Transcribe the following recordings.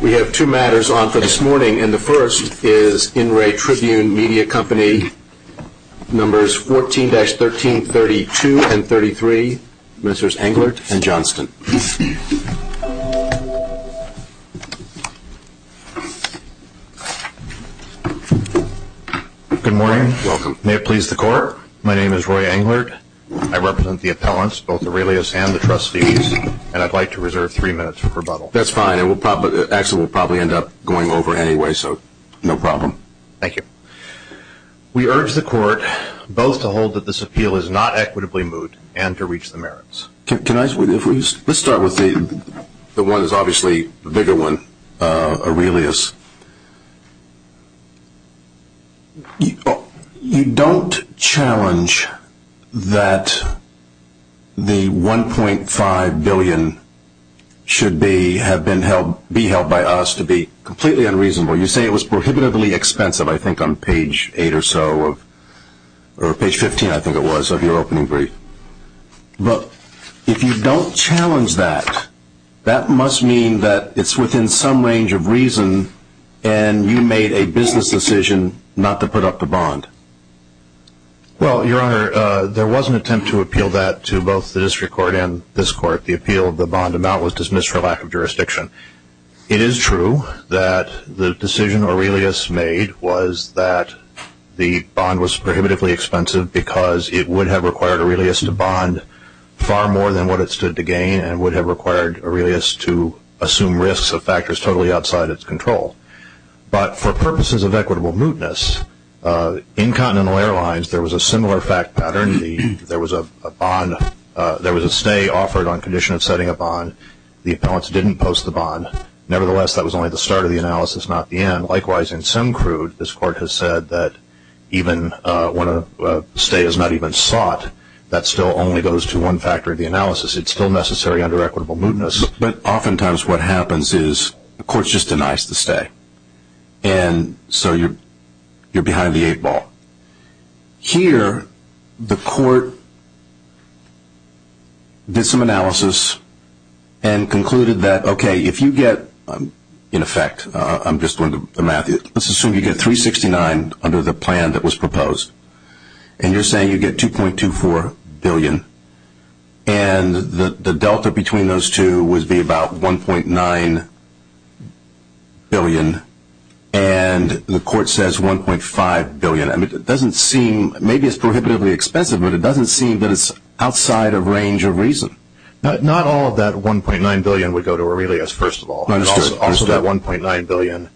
We have two matters on for this morning and the first is In Re Tribune Media Company numbers 14-13 32 and 33 ministers Englert and Johnston. Good morning may it please the court my name is Roy Englert I represent the appellants both Aurelius and the trustees and I'd like to reserve three minutes for rebuttal that's fine it will probably actually will probably end up going over anyway so no problem thank you we urge the court both to hold that this appeal is not equitably moved and to reach the merits can I switch let's start with the the one that's obviously the bigger one Aurelius you don't challenge that the 1.5 billion should be have been held be held by us to be completely unreasonable you say it was prohibitively expensive I think on page 8 or so of or page 15 I think it was of your opening brief but if you don't challenge that that must mean that it's within some range of reason and you made a business decision not to put up the bond well your honor there was an attempt to appeal that to both the district court and this court the appeal of the bond amount was dismissed for lack of jurisdiction it is true that the decision Aurelius made was that the bond was prohibitively expensive because it would have required Aurelius to bond far more than what it stood to gain and would have required Aurelius to assume risks of factors totally outside its control but for purposes of equitable mootness in Continental Airlines there was a similar fact pattern there was a bond there was a stay offered on condition of setting a bond the appellants didn't post the bond nevertheless that was only the start of the analysis not the end likewise in some crude this court has said that even when a stay is not even sought that still only goes to one factor of the analysis it's still necessary under equitable mootness but oftentimes what happens is the courts just denies the stay and so you're you're behind the eight ball here the court did some analysis and concluded that okay if you get in effect I'm just going to Matthew let's assume you get 369 under the plan that was proposed and you're saying you get two point two four billion and the the Delta between those two would be about 1.9 billion and the court says 1.5 billion and it doesn't seem maybe it's prohibitively expensive but it doesn't seem that it's outside of range of reason not all of that 1.9 billion would go to Aurelius first of all understood that 1.9 billion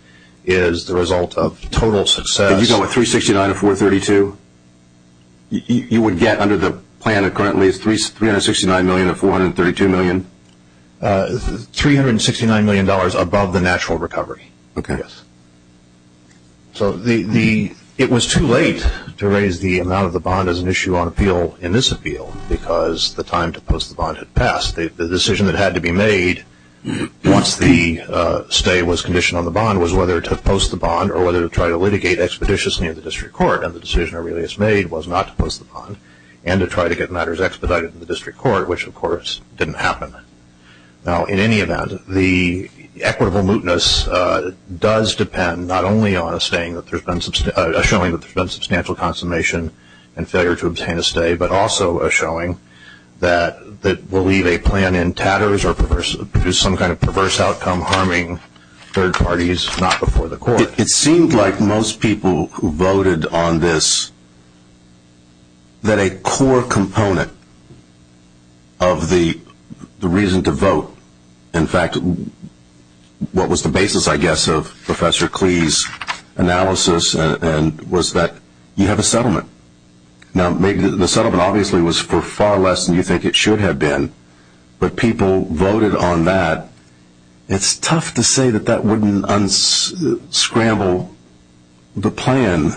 is the result of total success you go with 369 or 432 you would get under the plan it currently is three three hundred million dollars above the natural recovery okay yes so the the it was too late to raise the amount of the bond as an issue on appeal in this appeal because the time to post the bond had passed the decision that had to be made once the stay was conditioned on the bond was whether to post the bond or whether to try to litigate expeditious near the district court and the decision Aurelius made was not to post the bond and to try to get matters expedited in district court which of course didn't happen now in any event the equitable mootness does depend not only on a staying that there's been some showing that there's been substantial consummation and failure to obtain a stay but also a showing that that will leave a plan in tatters or perverse abuse some kind of perverse outcome harming third parties not before the that a core component of the the reason to vote in fact what was the basis I guess of professor Cleese analysis and was that you have a settlement now maybe the settlement obviously was for far less than you think it should have been but people voted on that it's tough to say that that wouldn't unscramble the plan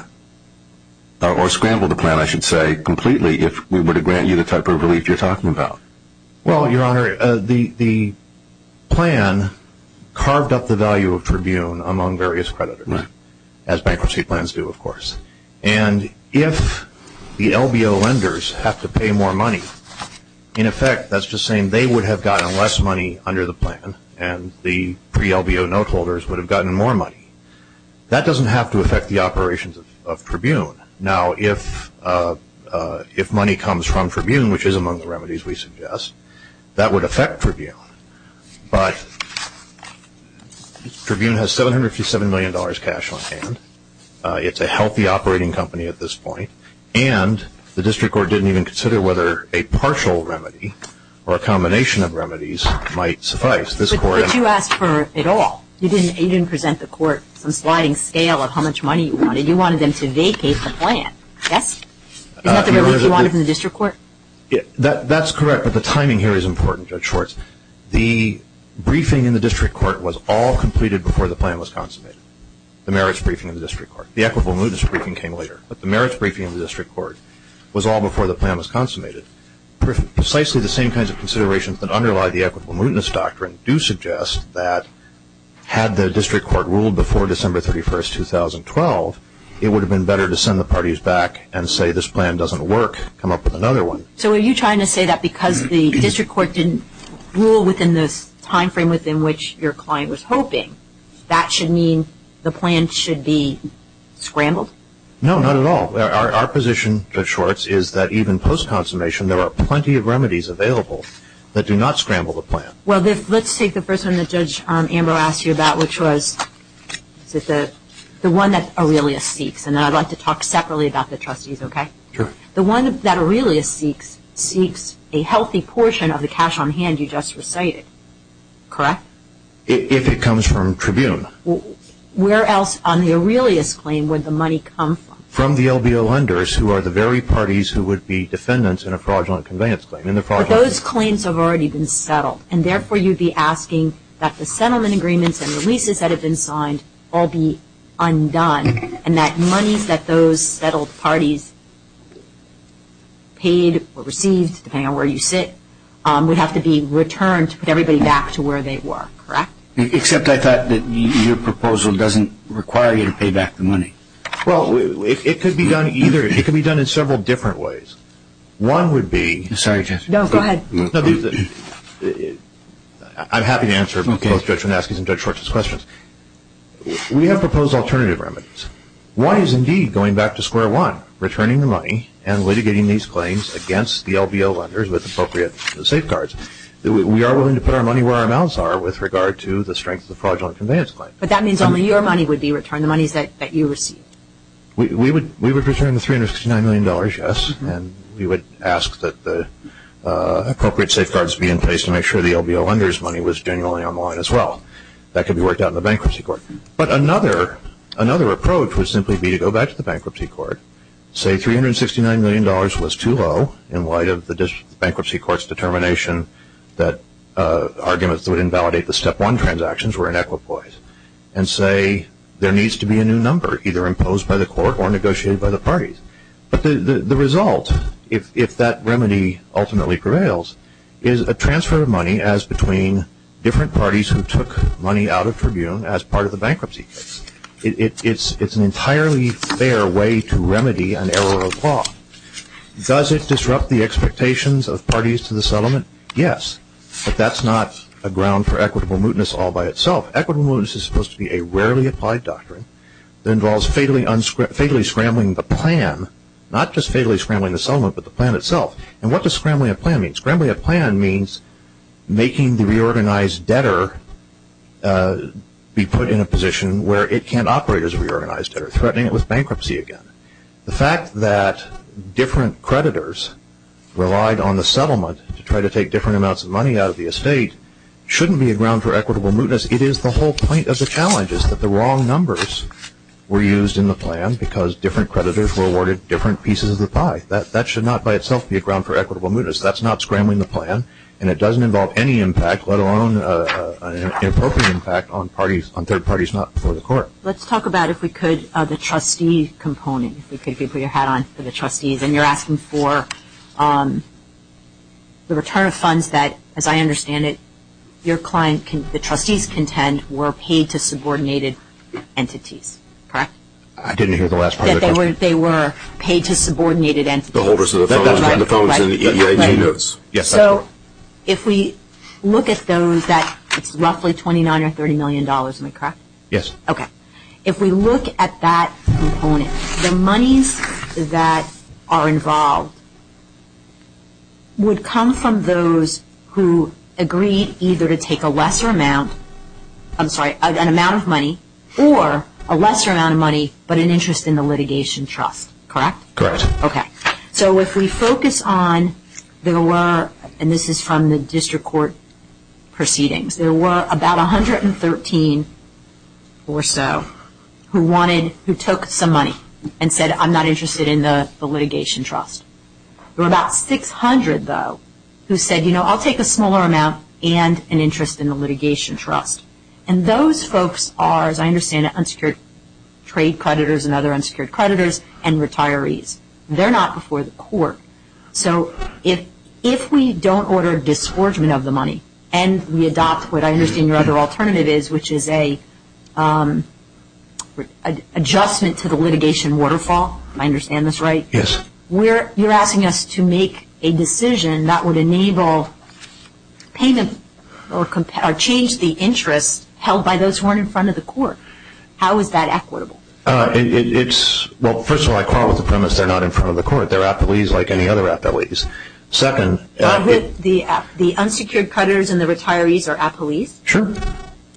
or scramble the plan I should say completely if we were to grant you the type of relief you're talking about well your honor the the plan carved up the value of Tribune among various credit as bankruptcy plans do of course and if the LBO lenders have to pay more money in effect that's just saying they would have gotten less money under the plan and the pre LBO note holders would have gotten more money that doesn't have to affect the operations of Tribune now if if money comes from Tribune which is among the remedies we suggest that would affect Tribune but Tribune has 757 million dollars cash on hand it's a healthy operating company at this point and the district court didn't even consider whether a partial remedy or a combination of remedies might suffice this court but you asked for it all you didn't you didn't present the court some sliding scale of how much money you wanted you wanted them to vacate the plan yes is that the relief you wanted from the district court yeah that that's correct but the timing here is important Judge Schwartz the briefing in the district court was all completed before the plan was consummated the merits briefing in the district court the equitable mootness briefing came later but the merits briefing in the district court was all before the plan was consummated precisely the same kinds of considerations that underlie the do suggest that had the district court ruled before December 31st 2012 it would have been better to send the parties back and say this plan doesn't work come up with another one so are you trying to say that because the district court didn't rule within this time frame within which your client was hoping that should mean the plan should be scrambled no not at all our position Judge Schwartz is that even post consummation there are plenty of remedies available that do not scramble the plan well this let's take the person that judge Amber asked you about which was the one that Aurelius seeks and I'd like to talk separately about the trustees okay sure the one that Aurelius seeks seeks a healthy portion of the cash on hand you just recited correct if it comes from Tribune well where else on the Aurelius claim with the money come from the LBO lenders who are the very parties who would be defendants in a those claims have already been settled and therefore you'd be asking that the settlement agreements and releases that have been signed all be undone and that money that those settled parties paid or received depending on where you sit we have to be returned to put everybody back to where they were correct except I thought that your proposal doesn't require you to pay back the money well it could be done either it could be done in several different ways one would be I'm happy to answer both Judge Van Asken and Judge Schwartz's questions we have proposed alternative remedies one is indeed going back to square one returning the money and litigating these claims against the LBO lenders with appropriate safeguards that we are willing to put our money where our mouths are with regard to the strength of the fraudulent conveyance claim but that means only your money would be returned the monies that you received we would we would return the 369 million dollars yes and we would ask that the appropriate safeguards be in place to make sure the LBO lenders money was genuinely online as well that can be worked out in the bankruptcy court but another another approach would simply be to go back to the bankruptcy court say 369 million dollars was too low in light of the bankruptcy courts determination that arguments would invalidate the step one transactions were inequitable and say there needs to be a new number either imposed by the court or remedy ultimately prevails is a transfer of money as between different parties who took money out of tribune as part of the bankruptcy it's it's an entirely fair way to remedy an error of law does it disrupt the expectations of parties to the settlement yes but that's not a ground for equitable mootness all by itself equitable mootness is supposed to be a rarely applied doctrine that involves fatally unscripted fatally scrambling the plan not just fatally scrambling the settlement but the plan itself and what does scrambling a plan mean scrambling a plan means making the reorganized debtor be put in a position where it can't operate as a reorganized or threatening it with bankruptcy again the fact that different creditors relied on the settlement to try to take different amounts of money out of the estate shouldn't be a ground for equitable mootness it is the whole point of the challenge is that the wrong numbers were used in the plan because different creditors were awarded different pieces of the pie that that should not by itself be a ground for equitable mootness that's not scrambling the plan and it doesn't involve any impact let alone an appropriate impact on parties on third parties not before the court let's talk about if we could the trustee component we could be put your hat on for the trustees and you're asking for the return of funds that as I understand it your client can the trustees contend were paid to subordinated and so if we look at those that it's roughly 29 or 30 million dollars in the correct yes okay if we look at that component the monies that are involved would come from those who agreed either to take a lesser amount I'm sorry an amount of money or a lesser amount of money but an interest in the correct okay so if we focus on there were and this is from the district court proceedings there were about a hundred and thirteen or so who wanted who took some money and said I'm not interested in the litigation trust we're about 600 though who said you know I'll take a smaller amount and an interest in the litigation trust and those folks are as I understand it unsecured trade creditors and other unsecured creditors and retirees they're not before the court so if if we don't order a disgorgement of the money and we adopt what I understand your other alternative is which is a adjustment to the litigation waterfall I understand this right yes we're you're asking us to make a decision that would enable payment or compare change the interest held by those weren't in front of the court how is that equitable it's well first of all I call with the premise they're not in front of the court they're at the lease like any other at the least second the the unsecured creditors and the retirees are at police sure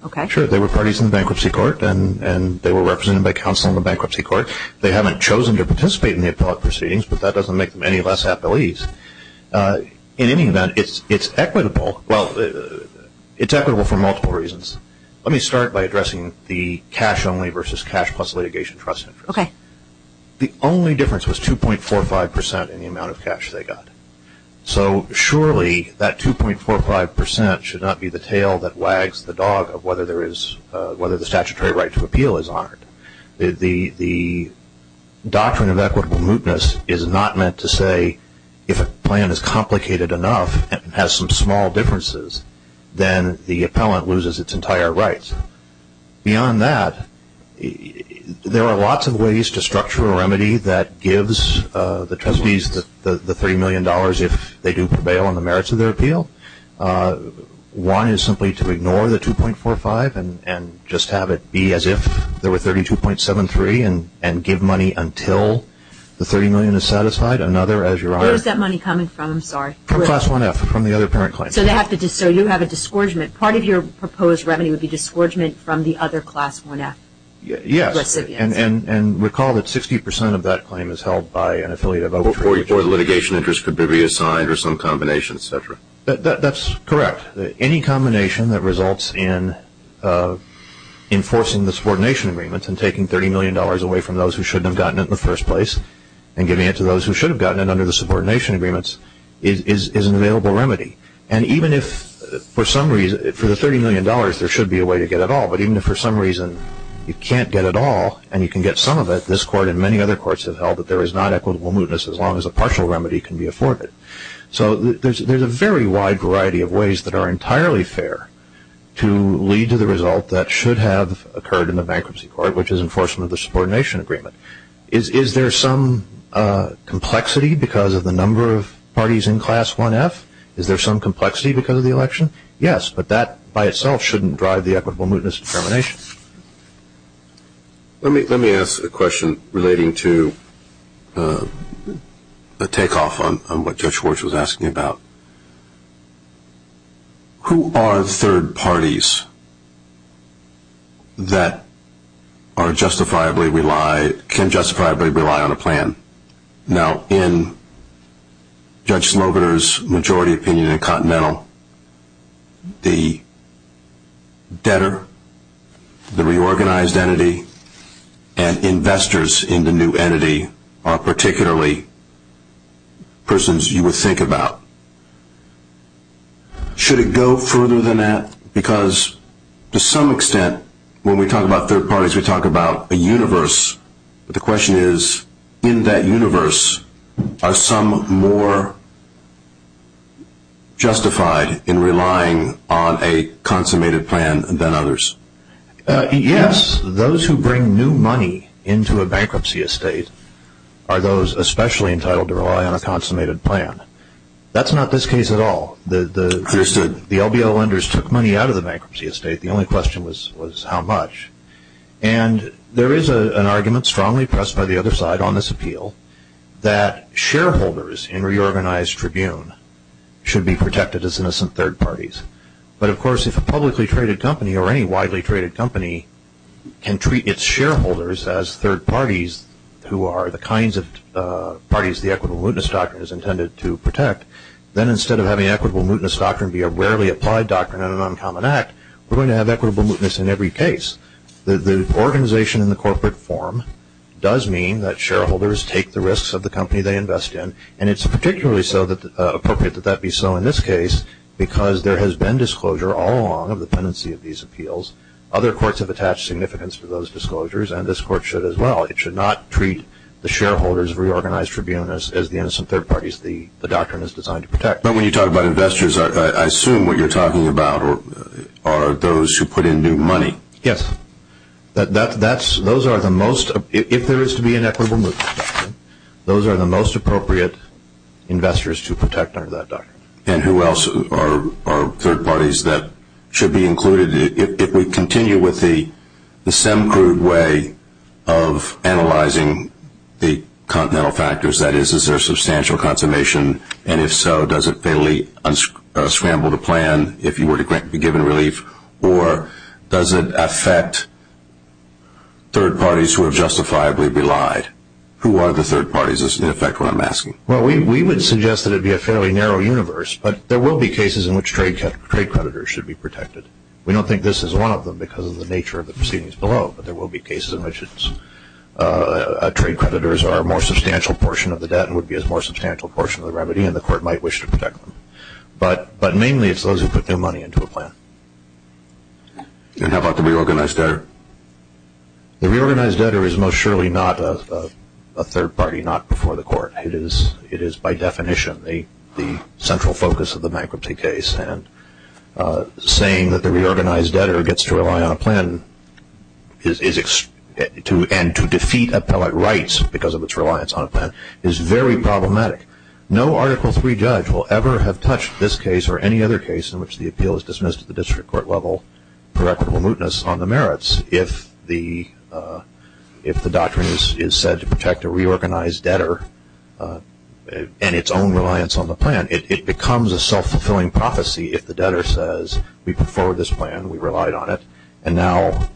okay sure they were parties in bankruptcy court and and they were represented by counsel in the bankruptcy court they haven't chosen to participate in the appellate proceedings but that doesn't make them any less at the lease in any event it's it's equitable well it's equitable for let me start by addressing the cash only versus cash plus litigation trust okay the only difference was 2.45 percent in the amount of cash they got so surely that 2.45 percent should not be the tail that wags the dog of whether there is whether the statutory right to appeal is honored the the doctrine of equitable mootness is not meant to say if a plan is complicated enough and has some small differences then the appellant loses its entire rights beyond that there are lots of ways to structure a remedy that gives the trustees that the three million dollars if they do prevail on the merits of their appeal one is simply to ignore the 2.45 and and just have it be as if there were 32.73 and and give money until the 30 million is satisfied another as your eyes that from the other parent claim so they have to do so you have a disgorgement part of your proposed remedy would be disgorgement from the other class 1f yes and and and recall that 60% of that claim is held by an affiliate of over 44 the litigation interest could be assigned or some combination etc that that's correct any combination that results in enforcing the subordination agreements and taking 30 million dollars away from those who shouldn't have gotten it in the first place and giving it to those who should have gotten it through the subordination agreements is is is an available remedy and even if for some reason for the 30 million dollars there should be a way to get it all but even for some reason you can't get it all and you can get some of it this court and many other courts have held that there is not equitable mootness as long as a partial remedy can be afforded so there's there's a very wide variety of ways that are entirely fair to lead to the result that should have occurred in the bankruptcy court which is enforcement the subordination agreement is is there some complexity because of the number of parties in class 1f is there some complexity because of the election yes but that by itself shouldn't drive the equitable mootness determination let me let me ask a question relating to a takeoff on what judge Schwartz was asking about who are the third parties that are justifiably rely can justifiably rely on a plan now in Judge Slobider's majority opinion in Continental the debtor the reorganized entity and investors in the new entity are particularly persons you would think about should it go further than that because to some extent when we talk about third parties we talk about a universe but the question is in that universe are some more justified in relying on a consummated plan than others yes those who bring new money into a bankruptcy estate are those especially entitled to rely on a consummated plan that's not this case at all the the the LBL lenders took money out of the bankruptcy estate the only question was was how much and there is a an argument strongly pressed by the other side on this appeal that shareholders in reorganized Tribune should be protected as innocent third parties but of course if a publicly traded company or any widely traded company can treat its shareholders as third parties who are the kinds of parties the equitable mootness doctrine is intended to protect then instead of having equitable mootness doctrine be a rarely applied doctrine on an uncommon act we're going to have equitable mootness in every case the organization in the corporate form does mean that shareholders take the risks of the company they invest in and it's particularly so that appropriate that that be so in this case because there has been disclosure all along of the pendency of these appeals other courts have attached significance to those disclosures and this court should as well it should not treat the shareholders reorganized tribunals as the innocent third parties the the doctrine is designed to protect but when you talk about investors are I assume what you're talking about or are those who put in new money yes that that's those are the most if there is to be an equitable mootness doctrine those are the most appropriate investors to protect under that doctrine and who else are third parties that should be included if we continue with the the same crude way of analyzing the continental factors that is is there substantial consummation and if so does it fairly unscramble the plan if you were to grant be given relief or does it affect third parties who have justifiably relied who are the third parties is in effect what I'm asking well we would suggest that it'd be a fairly narrow universe but there will be cases in which trade cut trade creditors should be protected we don't think this is one of them because of the nature of the proceedings below but there will be cases in which it's a trade creditors are more substantial portion of the debt would be as more substantial portion of the remedy and the court might wish to protect but but mainly it's those who put their money into a plan and how about the reorganized debtor the reorganized debtor is most surely not a third party not before the court it is it is by definition the the central focus of the reorganized debtor gets to rely on a plan is is it to and to defeat appellate rights because of its reliance on a plan is very problematic no article three judge will ever have touched this case or any other case in which the appeal is dismissed at the district court level correctable mootness on the merits if the if the doctrine is said to protect a reorganized debtor and its own reliance on the plan it becomes a self-fulfilling prophecy if the debtor says we prefer this plan we relied on it and now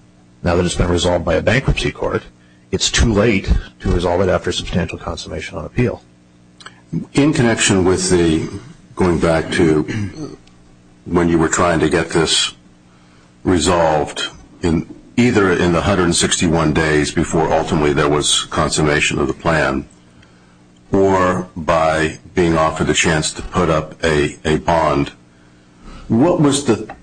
now that it's been resolved by a bankruptcy court it's too late to resolve it after substantial consummation on appeal in connection with the going back to when you were trying to get this resolved in either in the hundred and sixty one days before ultimately there was consummation of the plan or by being offered the chance to put up a a bond what was the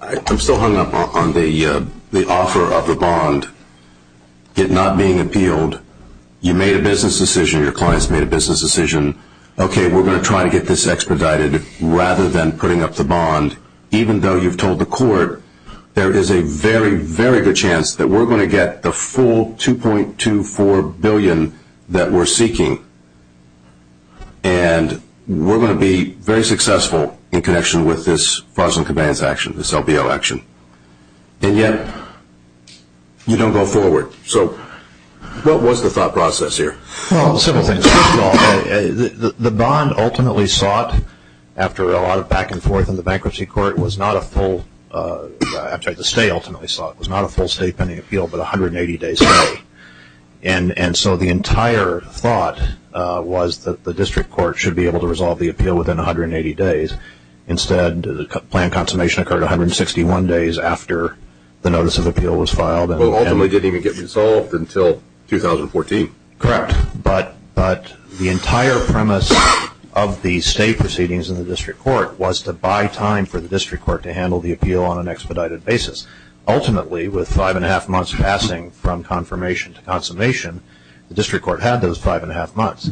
I'm still hung up on the the offer of the bond it not being appealed you made a business decision your clients made a business decision okay we're going to try to get this expedited rather than putting up the bond even though you've told the court there is a very very good chance that we're going to get the full 2.24 billion that we're seeking and we're going to be very successful in connection with this frozen commands action to sell the election and yet you don't go forward so what was the thought process here the bond ultimately sought after a lot of back-and-forth in the bankruptcy court was not a full stay ultimately sought was not a full state pending appeal but 180 days and and so the entire thought was that the district court should be able to resolve the appeal within 180 days instead the plan consummation occurred 161 days after the notice of appeal was filed and ultimately didn't even get resolved until 2014 correct but but the entire premise of the state proceedings in the district court was to buy time for the district court to handle the appeal on an expedited basis ultimately with five and a half months passing from confirmation to consummation the district court had those five and a half months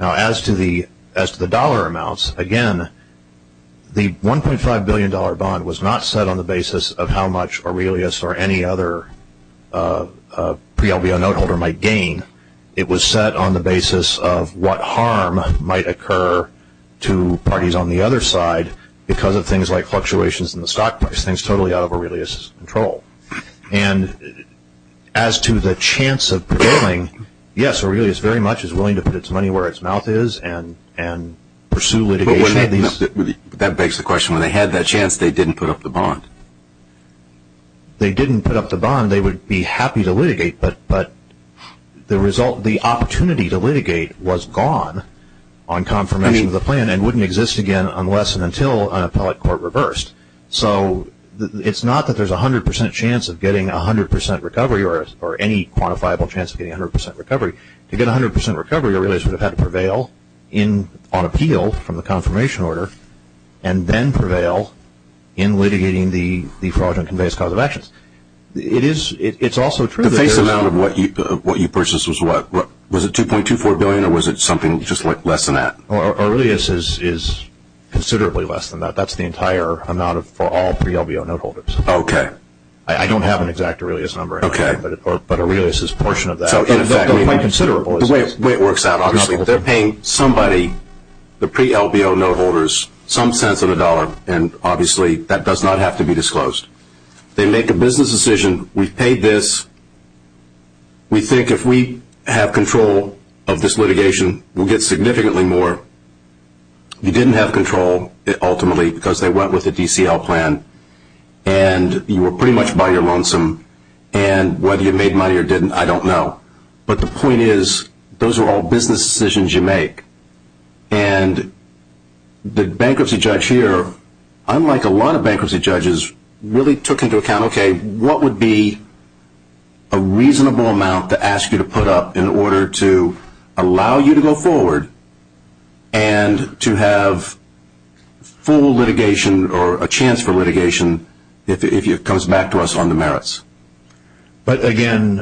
now as to the as the dollar amounts again the 1.5 billion dollar bond was not set on the basis of how much Aurelius or any other pre LBO note holder might gain it was set on the basis of what harm might occur to parties on the other side because of things like fluctuations in as to the chance of yes Aurelius very much as willing to put its money where its mouth is and and pursue litigate these that begs the question when they had that chance they didn't put up the bond they didn't put up the bond they would be happy to litigate but but the result the opportunity to litigate was gone on confirmation of the plan and wouldn't exist again unless and until an appellate court reversed so it's not that there's a hundred percent chance of getting a hundred percent recovery or any quantifiable chance of getting a hundred percent recovery to get a hundred percent recovery Aurelius would have had to prevail in on appeal from the confirmation order and then prevail in litigating the fraudulent conveyance cause of actions it is it's also true that there is the face amount of what you purchased was what was it 2.24 billion or was it something just like less than that Aurelius is considerably less than that that's the entire amount of for all pre LBO note holders okay I don't have an exact Aurelius number okay but but Aurelius is portion of that so in fact we have considerable the way it works out obviously they're paying somebody the pre LBO note holders some sense of a dollar and obviously that does not have to be disclosed they make a business decision we've paid this we think if we have control of this litigation we'll get significantly more you didn't have control it ultimately because they went with a DCL plan and you were pretty much by your lonesome and whether you made money or didn't I don't know but the point is those are all business decisions you make and the bankruptcy judge here unlike a lot of bankruptcy judges really took into account okay what would be a reasonable amount to ask you to put up in order to allow you to go forward and to have full litigation or a chance for litigation if it comes back to us on the merits but again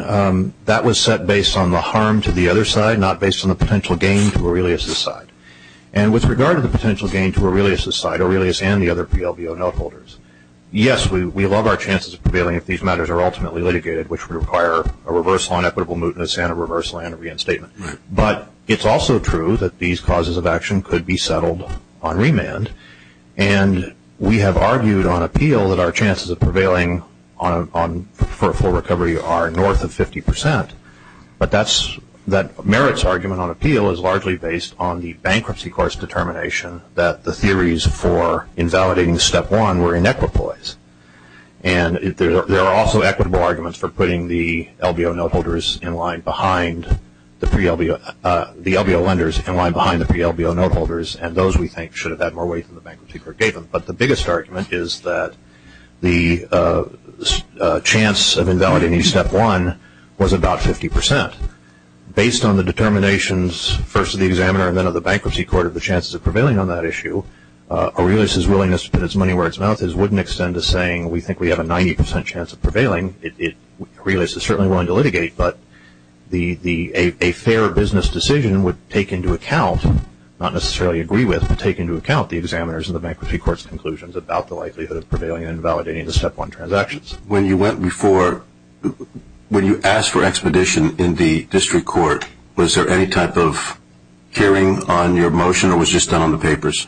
that was set based on the harm to the other side not based on the potential gain to Aurelius aside and with regard to the potential gain to Aurelius aside Aurelius and the other pre LBO note holders yes we love our chances of prevailing if these matters are ultimately litigated which would require a reversal on equitable mootness and a reversal and reinstatement but it's also true that these causes of action could be settled on remand and we have argued on appeal that our chances of prevailing on for a full recovery are north of 50% but that's that merits argument on appeal is largely based on the bankruptcy course determination that the theories for invalidating the step one were in equipoise and there are also equitable arguments for putting the LBO note holders in line behind the pre LBO the LBO lenders in line behind the pre LBO note holders and those we think should have had more weight than the bankruptcy is that the chance of invalidating step one was about 50% based on the determinations first of the examiner and then of the bankruptcy court of the chances of prevailing on that issue Aurelius is willingness to put his money where its mouth is wouldn't extend to saying we think we have a 90% chance of prevailing it really is certainly willing to litigate but the the a fair business decision would take into account not necessarily agree with but take into account the examiners of the bankruptcy courts conclusions about the likelihood of prevailing and validating the step one transactions when you went before when you asked for expedition in the district court was there any type of hearing on your motion or was just on the papers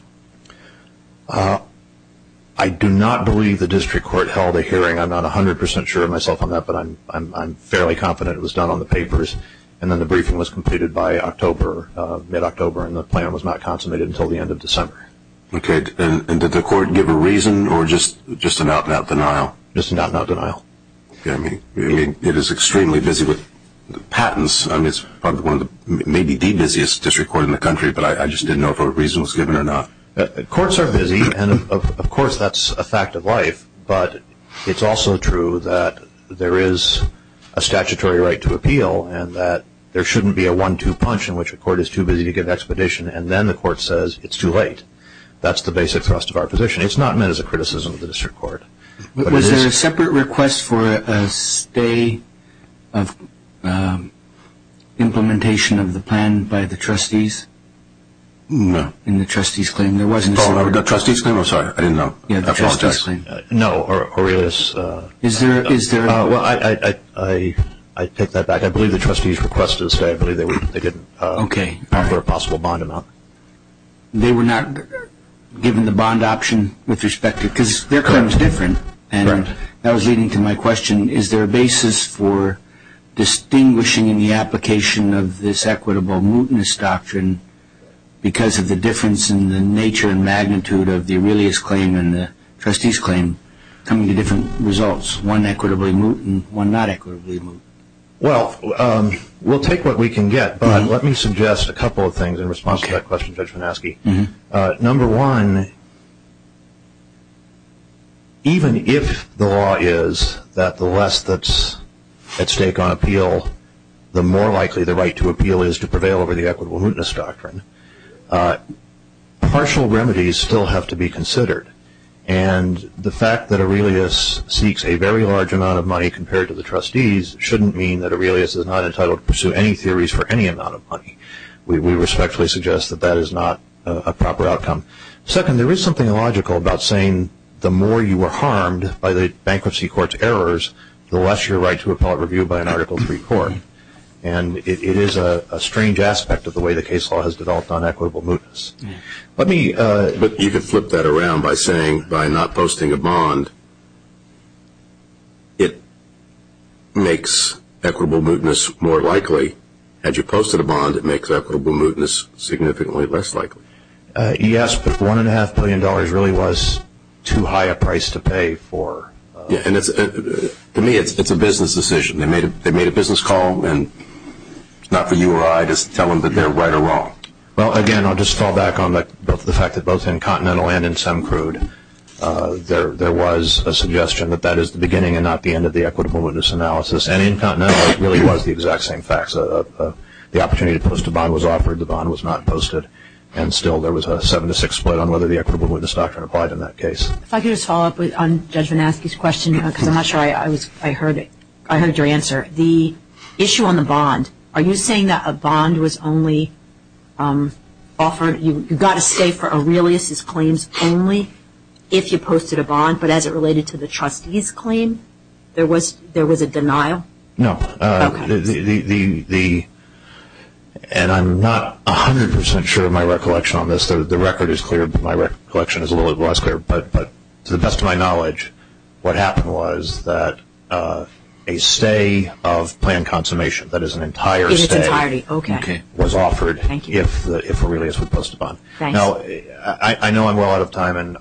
I do not believe the district court held a hearing I'm not a hundred percent sure of myself on that but I'm I'm fairly confident it was done on the papers and then the briefing was completed by October mid-October and the plan was not consummated until the end of December okay and did the court give a reason or just just an out-and-out denial just not not denial I mean it is extremely busy with patents I mean it's probably one of the maybe the busiest district court in the country but I just didn't know if a reason was given or not courts are busy and of course that's a fact of life but it's also true that there is a statutory right to appeal and that there shouldn't be a one-two punch in which a court is too busy to give expedition and then the court says it's too late that's the basic thrust of our position it's not meant as a criticism of the district court but was there a separate request for a stay of implementation of the plan by the trustees no in the trustees claim there wasn't a trustee so I'm sorry I didn't know yeah no or is is there is there well I I I take that back I believe the bond amount they were not given the bond option with respect to because there comes different and that was leading to my question is there a basis for distinguishing in the application of this equitable mootness doctrine because of the difference in the nature and magnitude of the earliest claim and the trustees claim coming to different results one equitably moot and one not equitably well we'll take what we can get but let me suggest a couple of responses that question judgment asking number one even if the law is that the less that's at stake on appeal the more likely the right to appeal is to prevail over the equitable mootness doctrine partial remedies still have to be considered and the fact that Aurelius seeks a very large amount of money compared to the trustees shouldn't mean that Aurelius is not entitled to pursue any theories for any amount of money we respectfully suggest that that is not a proper outcome second there is something illogical about saying the more you were harmed by the bankruptcy courts errors the less your right to appellate review by an article three court and it is a strange aspect of the way the case law has developed on equitable mootness let me but you could flip that around by saying by not posting a bond it makes equitable mootness more likely as you posted a bond it makes equitable mootness significantly less likely yes one and a half billion dollars really was too high a price to pay for and it's a business decision they made a business call and not for you or I just tell them that they're right or wrong again I'll just fall back on the fact that both in continental and in some crude there there was a suggestion that that is the beginning and not the end of the equitable mootness analysis and in continental it really was the exact same facts of the opportunity to post a bond was offered the bond was not posted and still there was a seven to six split on whether the equitable mootness doctrine applied in that case if I could just follow up with on judgment ask his question because I'm not sure I was I heard it I heard your answer the issue on the bond are you saying that a bond was only offered you got to stay for a release his claims only if you posted a bond but as it related to the trustees claim there was there was a denial no the and I'm not a hundred percent sure of my recollection on this the record is clear but my recollection is a little less clear but but to the best of my knowledge what happened was that a stay of planned consummation that is an entire entirety okay was offered thank you if it really is supposed to bond now I know I'm well out of time and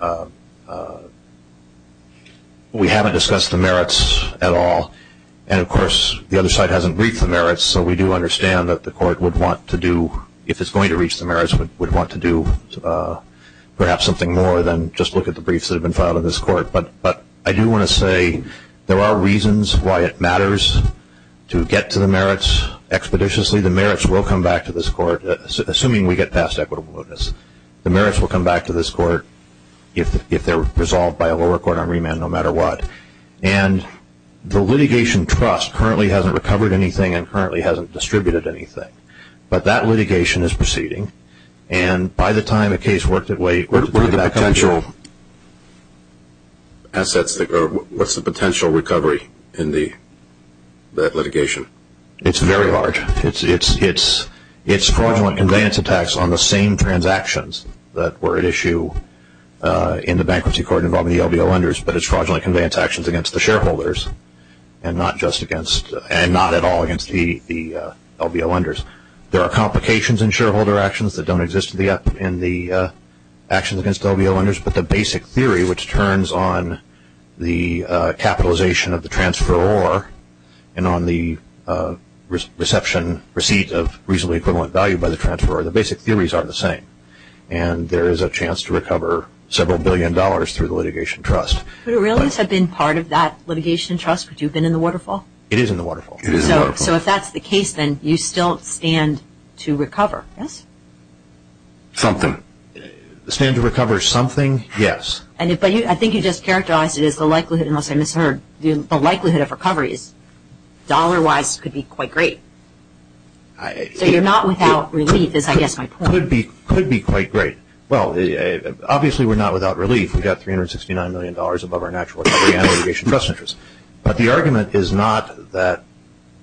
we haven't discussed the merits at all and of course the other side hasn't briefed the merits so we do understand that the court would want to do if it's going to reach the merits but would want to do perhaps something more than just look at the briefs that have been filed in this court but but I do want to say there are reasons why it matters to get to the expeditiously the merits will come back to this court assuming we get past equitable notice the merits will come back to this court if they're resolved by a lower court on remand no matter what and the litigation trust currently hasn't recovered anything and currently hasn't distributed anything but that litigation is proceeding and by the time a case worked it way or potential assets what's the potential recovery in the that litigation it's very large it's it's it's it's fraudulent conveyance attacks on the same transactions that were at issue in the bankruptcy court involving the LBO lenders but it's fraudulent conveyance actions against the shareholders and not just against and not at all against the LBO lenders there are complications in shareholder actions that don't exist in the action against LBO lenders but the basic theory which turns on the capitalization of the transferor and on the reception receipt of reasonably equivalent value by the transferor the basic theories are the same and there is a chance to recover several billion dollars through the litigation trust but it really has been part of that litigation trust but you've been in the waterfall it is in the waterfall so if that's the case then you still stand to recover yes something the stand to yes and if I think you just characterized it is the likelihood unless I misheard the likelihood of recoveries dollar-wise could be quite great so you're not without relief is I guess I could be could be quite great well the obviously we're not without relief we got 369 million dollars above our national trust interest but the argument is not that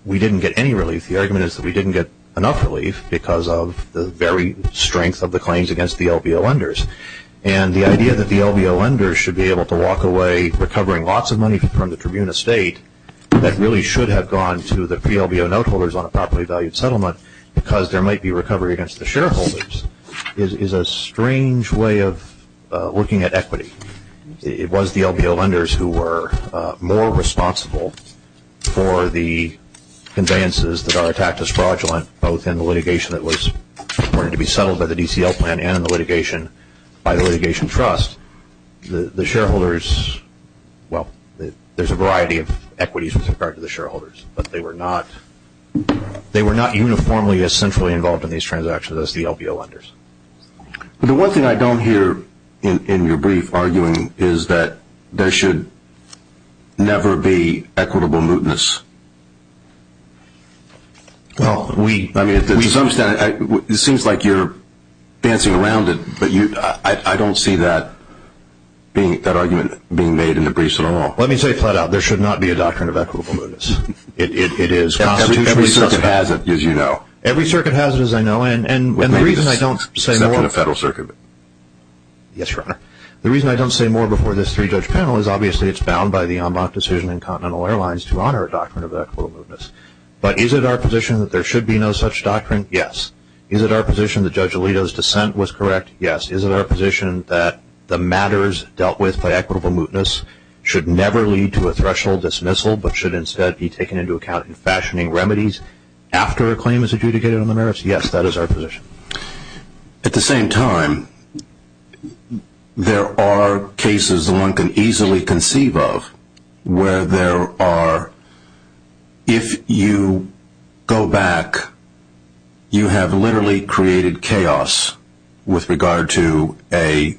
we didn't get any relief the argument is that we didn't get enough relief because of the very strength of the claims against the LBO lenders and the idea that the LBO lenders should be able to walk away recovering lots of money from the tribune estate that really should have gone to the PLBO note holders on a properly valued settlement because there might be recovery against the shareholders is a strange way of looking at equity it was the LBO lenders who were more responsible for the conveyances that are attacked as and the litigation by the litigation trust the the shareholders well there's a variety of equities with regard to the shareholders but they were not they were not uniformly as centrally involved in these transactions as the LBO lenders the one thing I don't hear in your brief arguing is that there should never be equitable mootness well we I mean it seems like you're dancing around it but you I don't see that being that argument being made in the briefs at all let me say flat out there should not be a doctrine of equitable mootness it is every circuit has it as you know every circuit has it as I know and and the reason I don't say nothing a federal circuit yes your honor the reason I don't say more before this three judge panel is obviously it's bound by the airlines to honor a doctrine of equitable mootness but is it our position that there should be no such doctrine yes is it our position the judge Alito's dissent was correct yes is it our position that the matters dealt with by equitable mootness should never lead to a threshold dismissal but should instead be taken into account in fashioning remedies after a claim is adjudicated on the merits yes that is our position at the same time there are cases the one can easily conceive of where there are if you go back you have literally created chaos with regard to a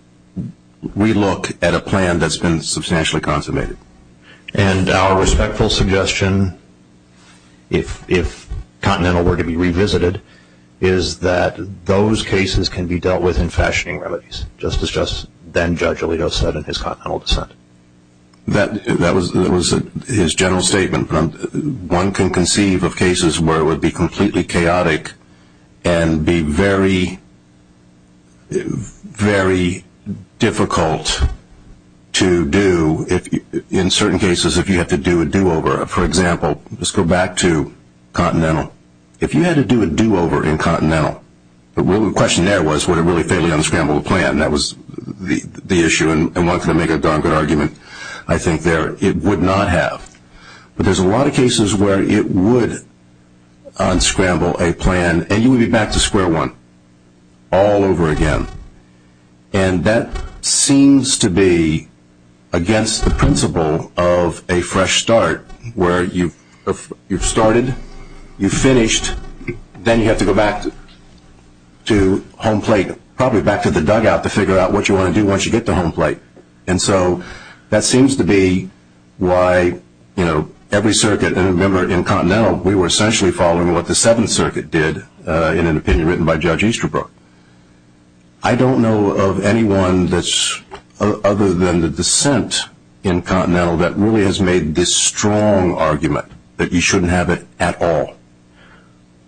we look at a plan that's been substantially consummated and our respectful suggestion if if continental were to be revisited is that those cases can be dealt with in fashioning remedies just as just then judge Alito said in his continental dissent that that was that was his general statement from one can conceive of cases where it would be completely chaotic and be very very difficult to do if in certain cases if you have to do a do-over for example let's go back to continental if you had to do a do-over in continental the question there was what a really unscramble plan that was the the issue and I want to make a good argument I think there it would not have but there's a lot of cases where it would unscramble a plan and you would be back to square one all over again and that seems to be against the principle of a fresh start where you you've started you finished then you have to go back to home plate probably back to the dugout to figure out what you want to do once you get the home plate and so that seems to be why you know every circuit and remember in continental we were essentially following what the Seventh Circuit did in an opinion written by judge Easterbrook I don't know of anyone that's other than the dissent in continental that really has made this strong argument that you shouldn't have it at all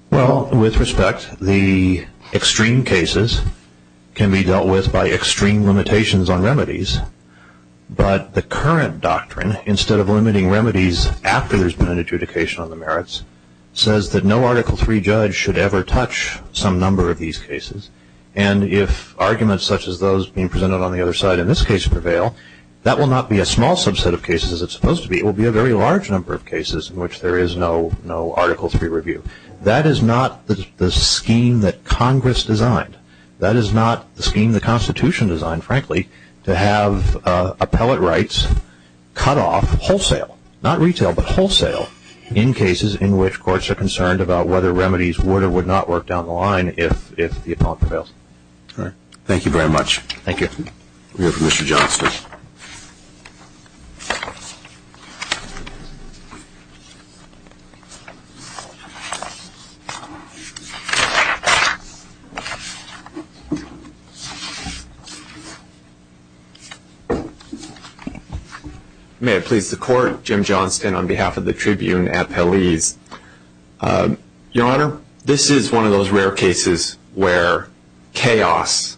well with respect the extreme cases can be dealt with by extreme limitations on remedies but the current doctrine instead of limiting remedies after there's been an adjudication on the merits says that no article 3 judge should ever touch some number of these cases and if arguments such as those being presented on the other side in this case prevail that will not be a small subset of cases it's supposed to be will be a very large number of cases in which there is no no article 3 review that is not the scheme that Congress designed that is not the scheme the Constitution designed frankly to have appellate rights cut off wholesale not retail but wholesale in cases in which courts are concerned about whether remedies would or would not work down the line if if the appellate prevails all right thank you very much thank you mr. Johnston may it please the court Jim Johnston on behalf of the Tribune at police your honor this is one of those rare cases where chaos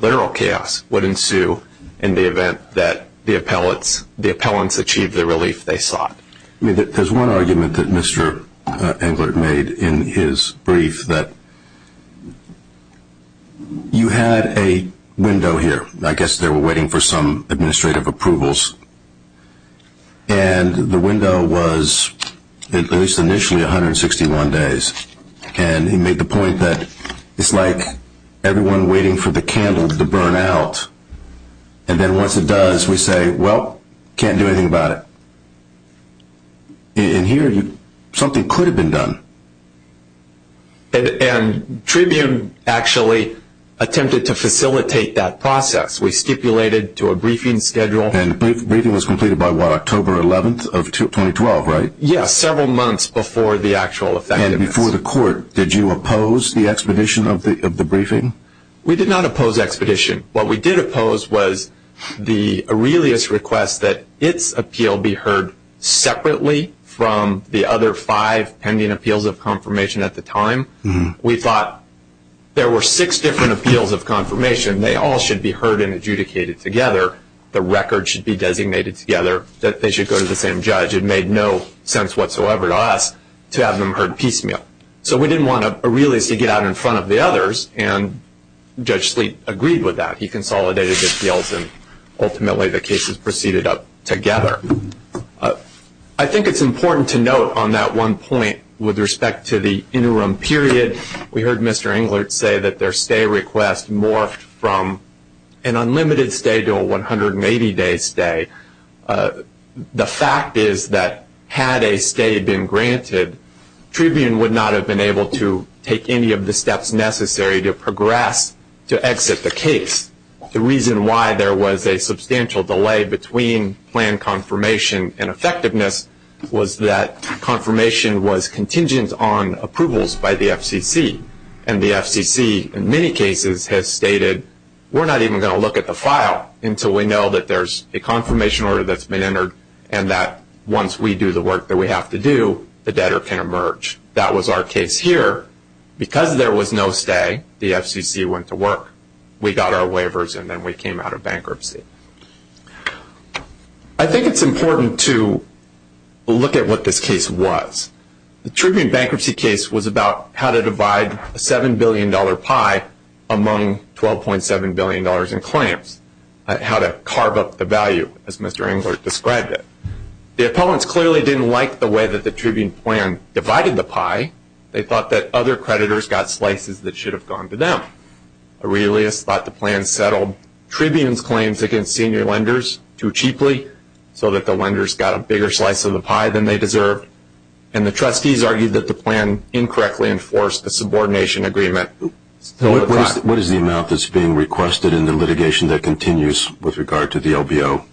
literal chaos would ensue in the event that the appellants the appellants achieved the relief they sought I mean that there's one argument that mr. Englert made in his brief that you had a window here I guess they were waiting for some administrative approvals and the window was at least initially 161 days and he the point that it's like everyone waiting for the candles to burn out and then once it does we say well can't do anything about it in here you something could have been done and Tribune actually attempted to facilitate that process we stipulated to a briefing schedule and briefing was completed by what October 11th of 2012 right yes several months before the actual effective before the court did you oppose the expedition of the of the briefing we did not oppose expedition what we did oppose was the Aurelius request that its appeal be heard separately from the other five pending appeals of confirmation at the time we thought there were six different appeals of confirmation they all should be heard and adjudicated together the record should be designated together that they should go to the same judge it made no sense whatsoever to us to have them heard piecemeal so we didn't want to Aurelius to get out in front of the others and judge sleep agreed with that he consolidated the deals and ultimately the cases proceeded up together I think it's important to note on that one point with respect to the interim period we heard mr. Englert say that their stay request morphed from an unlimited stay to a 180 day stay the fact is that had a stay been granted Tribune would not have been able to take any of the steps necessary to progress to exit the case the reason why there was a substantial delay between plan confirmation and effectiveness was that confirmation was contingent on approvals by the FCC and many cases have stated we're not even going to look at the file until we know that there's a confirmation order that's been entered and that once we do the work that we have to do the debtor can emerge that was our case here because there was no stay the FCC went to work we got our waivers and then we came out of bankruptcy I think it's important to look at what this case was the Tribune billion-dollar pie among 12.7 billion dollars in claims how to carve up the value as mr. Englert described it the opponents clearly didn't like the way that the Tribune plan divided the pie they thought that other creditors got slices that should have gone to them Aurelius thought the plan settled Tribune's claims against senior lenders too cheaply so that the lenders got a bigger slice of the pie than they deserved and the trustees argued that the plan incorrectly enforced the subordination agreement what is the amount that's being requested in the litigation that continues with regard to the LBO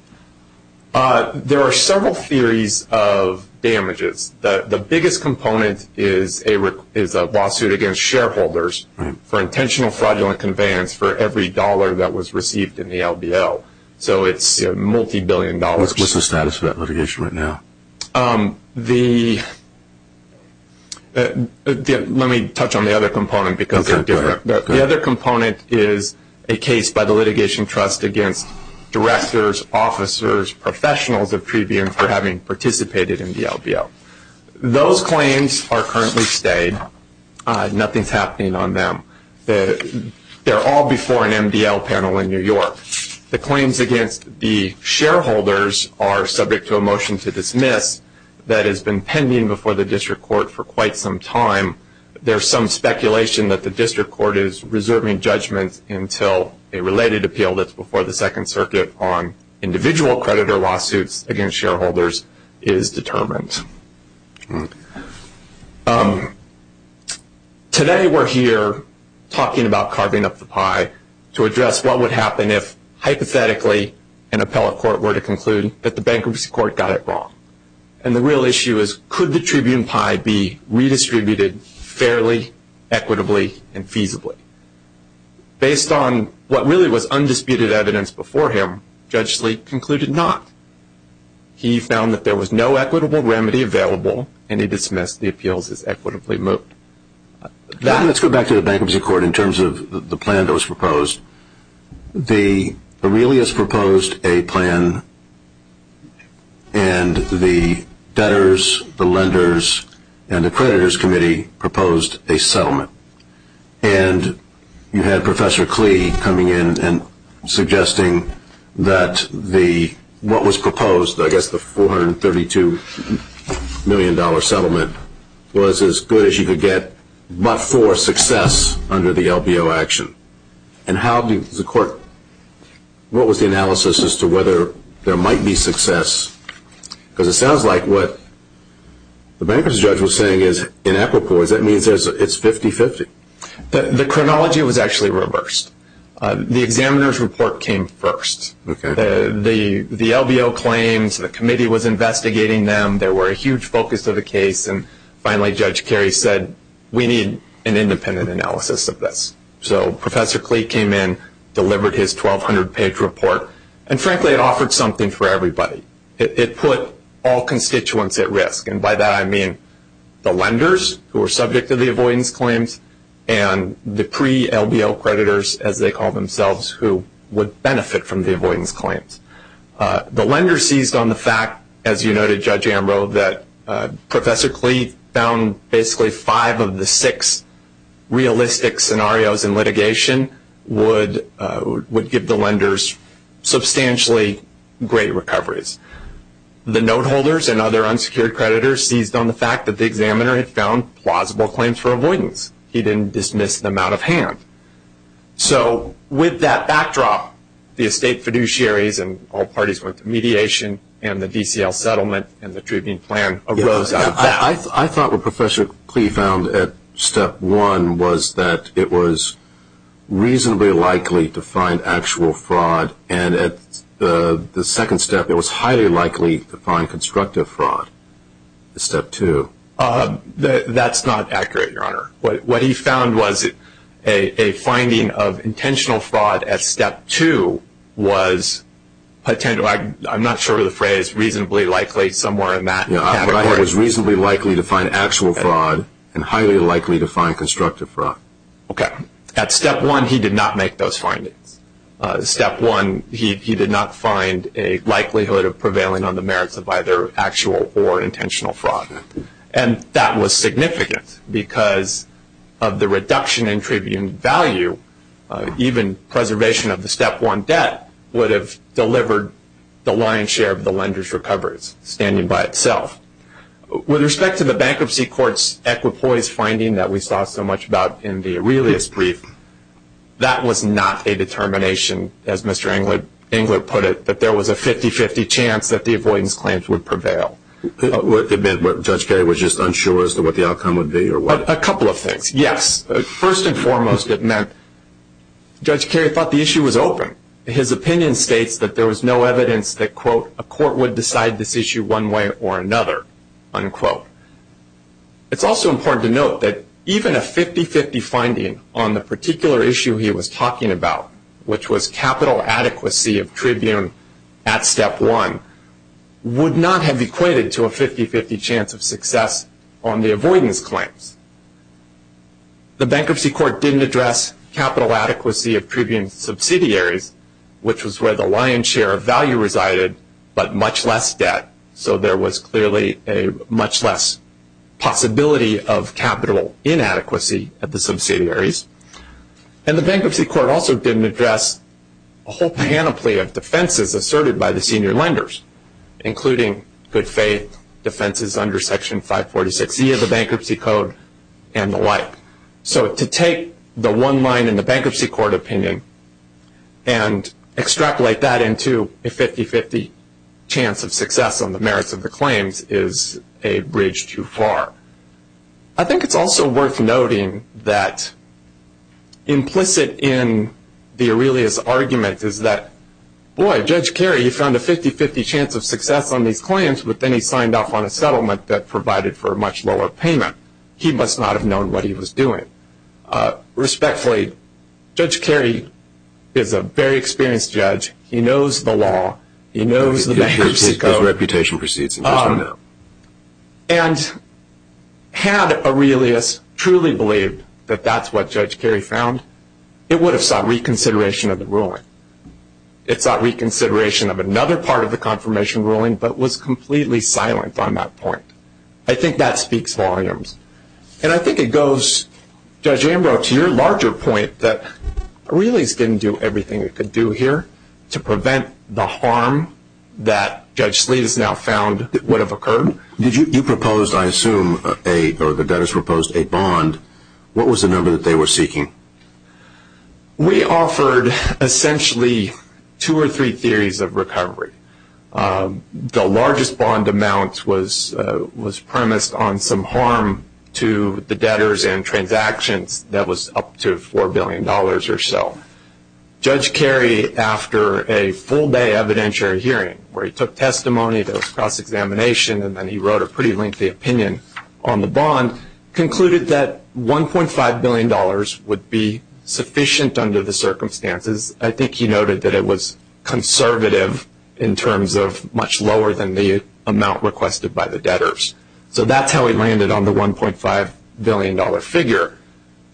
there are several theories of damages that the biggest component is a is a lawsuit against shareholders for intentional fraudulent conveyance for every dollar that was received in the LBO so it's a multi-billion dollars what's the status of that litigation right now the let me touch on the other component because the other component is a case by the litigation trust against directors officers professionals of Tribune for having participated in the LBO those claims are currently stayed nothing's happening on them that they're all before an MDL panel in New York the claims against the shareholders are subject to a motion to dismiss that has been pending before the district court for quite some time there's some speculation that the district court is reserving judgments until a related appeal that's before the Second Circuit on individual creditor lawsuits against shareholders is determined today we're here talking about carving up the pie to address what would happen if hypothetically an appellate court were to conclude that the bankruptcy court got it wrong and the real issue is could the Tribune pie be redistributed fairly equitably and feasibly based on what really was undisputed evidence before him concluded not he found that there was no equitable remedy available and he goes back to the bankruptcy court in terms of the plan that was proposed the really is proposed a plan and the debtors the lenders and the creditors committee proposed a settlement and you had Professor Klee coming in and suggesting that the what was proposed I guess the 432 million dollar settlement was as good as you could get but for success under the LBO action and how do the court what was the analysis as to whether there might be success because it sounds like what the bankruptcy judge was saying is inequitables that means it's 50-50 the chronology was actually reversed the examiner's report came first the LBO claims the committee was investigating them there were a huge focus of the case and finally Judge Kerry said we need an independent analysis of this so Professor Klee came in delivered his 1,200 page report and frankly it offered something for everybody it put all constituents at risk and by that I mean the lenders who were subject to the avoidance claims and the pre-LBO creditors as they call themselves who would benefit from the that Professor Klee found basically five of the six realistic scenarios in litigation would would give the lenders substantially great recoveries the note holders and other unsecured creditors seized on the fact that the examiner had found plausible claims for avoidance he didn't dismiss them out of hand so with that backdrop the estate fiduciaries and all parties went to mediation and the treatment plan arose I thought what Professor Klee found at step one was that it was reasonably likely to find actual fraud and at the the second step it was highly likely to find constructive fraud step two that's not accurate your honor what he found was a finding of intentional fraud at step two was I'm not sure the phrase reasonably likely somewhere in that it was reasonably likely to find actual fraud and highly likely to find constructive fraud okay at step one he did not make those findings step one he did not find a likelihood of prevailing on the merits of either actual or intentional fraud and that was significant because of the reduction in tribute value even preservation of the step one debt would have delivered the lion's share of the lenders recoveries standing by itself with respect to the bankruptcy courts equipoise finding that we saw so much about in the Aurelius brief that was not a determination as mr. Englert Englert put it that there was a 50-50 chance that the avoidance claims would prevail judge Kerry was just unsure as to what the outcome would be or what a couple of things yes first and foremost it meant judge Kerry thought the issue was open his opinion states that there was no evidence that quote a court would decide this issue one way or another unquote it's also important to note that even a 50-50 finding on the particular issue he was talking about which was capital adequacy of Tribune at step one would not have equated to a 50-50 chance of success on the avoidance claims the capital adequacy of Tribune subsidiaries which was where the lion's share of value resided but much less debt so there was clearly a much less possibility of capital inadequacy at the subsidiaries and the bankruptcy court also didn't address a whole panoply of defenses asserted by the senior lenders including good faith defenses under section 546 e of the bankruptcy code and the bankruptcy court opinion and extrapolate that into a 50-50 chance of success on the merits of the claims is a bridge too far I think it's also worth noting that implicit in the Aurelius argument is that boy judge Kerry he found a 50-50 chance of success on these claims but then he signed off on a settlement that provided for a much lower payment he must not have known what he was doing respectfully judge Kerry is a very experienced judge he knows the law he knows the reputation proceeds and had Aurelius truly believed that that's what judge Kerry found it would have sought reconsideration of the ruling it's not reconsideration of another part of the confirmation ruling but was completely silent on that point I think that speaks volumes and I think it goes judge Ambrose to your larger point that Aurelius didn't do everything it could do here to prevent the harm that judge Sleet has now found would have occurred did you propose I assume a or the debtors proposed a bond what was the number that they were seeking we offered essentially two or three theories of recovery the largest bond amount was was premised on some to the debtors and transactions that was up to four billion dollars or so judge Kerry after a full day evidentiary hearing where he took testimony that was cross-examination and then he wrote a pretty lengthy opinion on the bond concluded that 1.5 billion dollars would be sufficient under the circumstances I think he noted that it was conservative in terms of much lower than the amount requested by the debtors so that's how we landed on the 1.5 billion dollar figure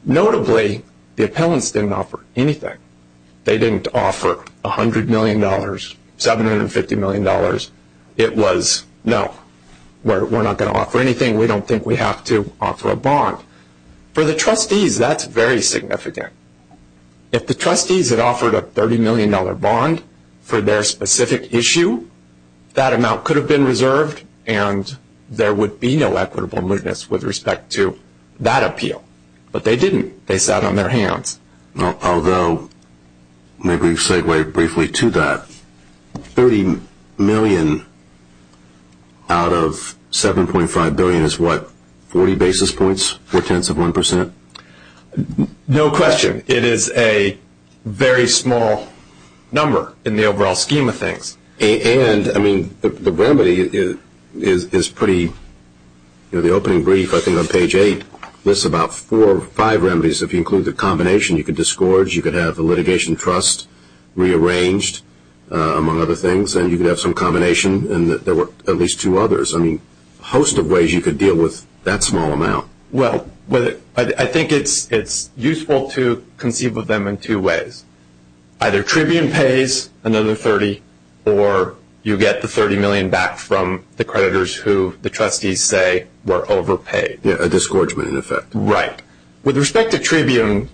notably the appellants didn't offer anything they didn't offer a hundred million dollars 750 million dollars it was no we're not going to offer anything we don't think we have to offer a bond for the trustees that's very significant if the trustees had offered a 30 million dollar bond for their specific issue that amount could have been reserved and there would be no equitable movements with respect to that appeal but they didn't they sat on their hands although maybe segue briefly to that 30 million out of 7.5 billion is what 40 basis points for tens of one percent no question it is a very small number in the overall scheme of things and I mean the remedy is is pretty the opening brief I think on page 8 lists about four or five remedies if you include the combination you could disgorge you could have the litigation trust rearranged among other things and you have some combination and there were at least two others I mean host of ways you could deal with that small amount well but I think it's it's useful to conceive of them in two ways either Tribune pays another 30 or you get the 30 million back from the creditors who the trustees say were overpaid a disgorgement effect right with respect to Tribune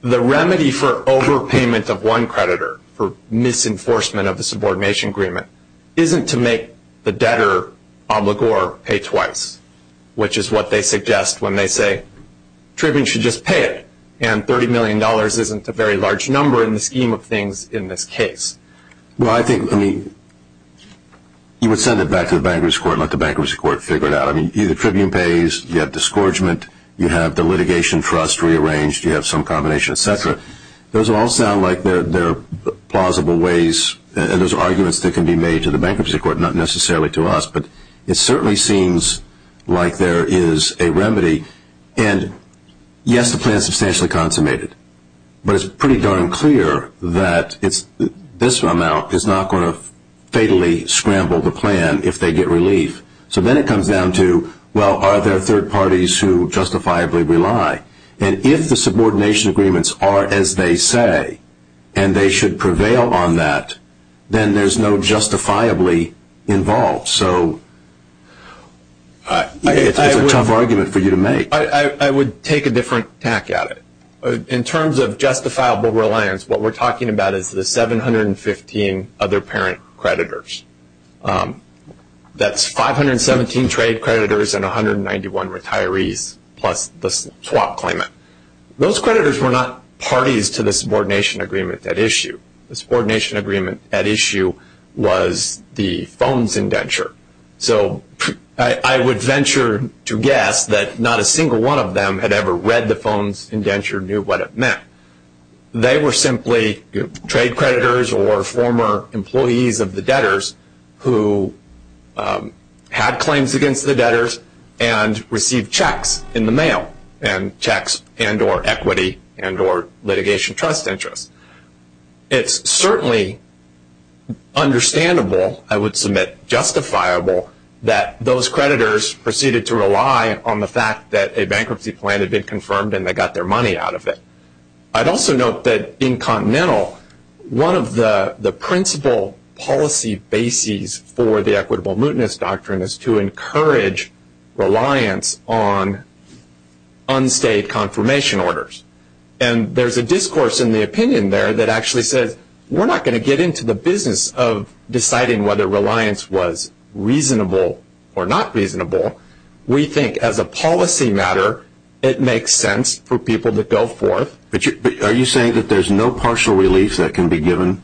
the remedy for overpayment of one creditor for misenforcement of the subordination agreement isn't to make the debtor obligor pay twice which is what they suggest when they say Tribune should just pay it and 30 million dollars isn't a very large number in the scheme of things in this case well I think I mean you would send it back to the bankers court let the bankers court figure it out I mean either Tribune pays you have disgorgement you have the litigation trust rearranged you have some combination etc those all sound like they're plausible ways and those arguments that can be made to the bankruptcy court not necessarily to us but it certainly seems like there is a pretty darn clear that it's this amount is not going to fatally scramble the plan if they get relief so then it comes down to well are there third parties who justifiably rely and if the subordination agreements are as they say and they should prevail on that then there's no justifiably involved so it's a tough argument for you to make I would take a different tack at it in terms of justifiable reliance what we're talking about is the 715 other parent creditors that's 517 trade creditors and 191 retirees plus the swap claimant those creditors were not parties to the subordination agreement that issue subordination agreement at issue was the phone's indenture so I would venture to guess that not a single one of them had ever read the phone's indenture knew what it meant they were simply trade creditors or former employees of the debtors who had claims against the debtors and received checks in the mail and checks and or equity and or litigation trust interest it's certainly understandable I would submit justifiable that those creditors proceeded to rely on the fact that a bankruptcy plan to be confirmed and they I'd also note that in continental one of the the principal policy bases for the equitable mootness doctrine is to encourage reliance on unstayed confirmation orders and there's a discourse in the opinion there that actually says we're not going to get into the business of deciding whether reliance was reasonable or not reasonable we think as a policy matter it but are you saying that there's no partial relief that can be given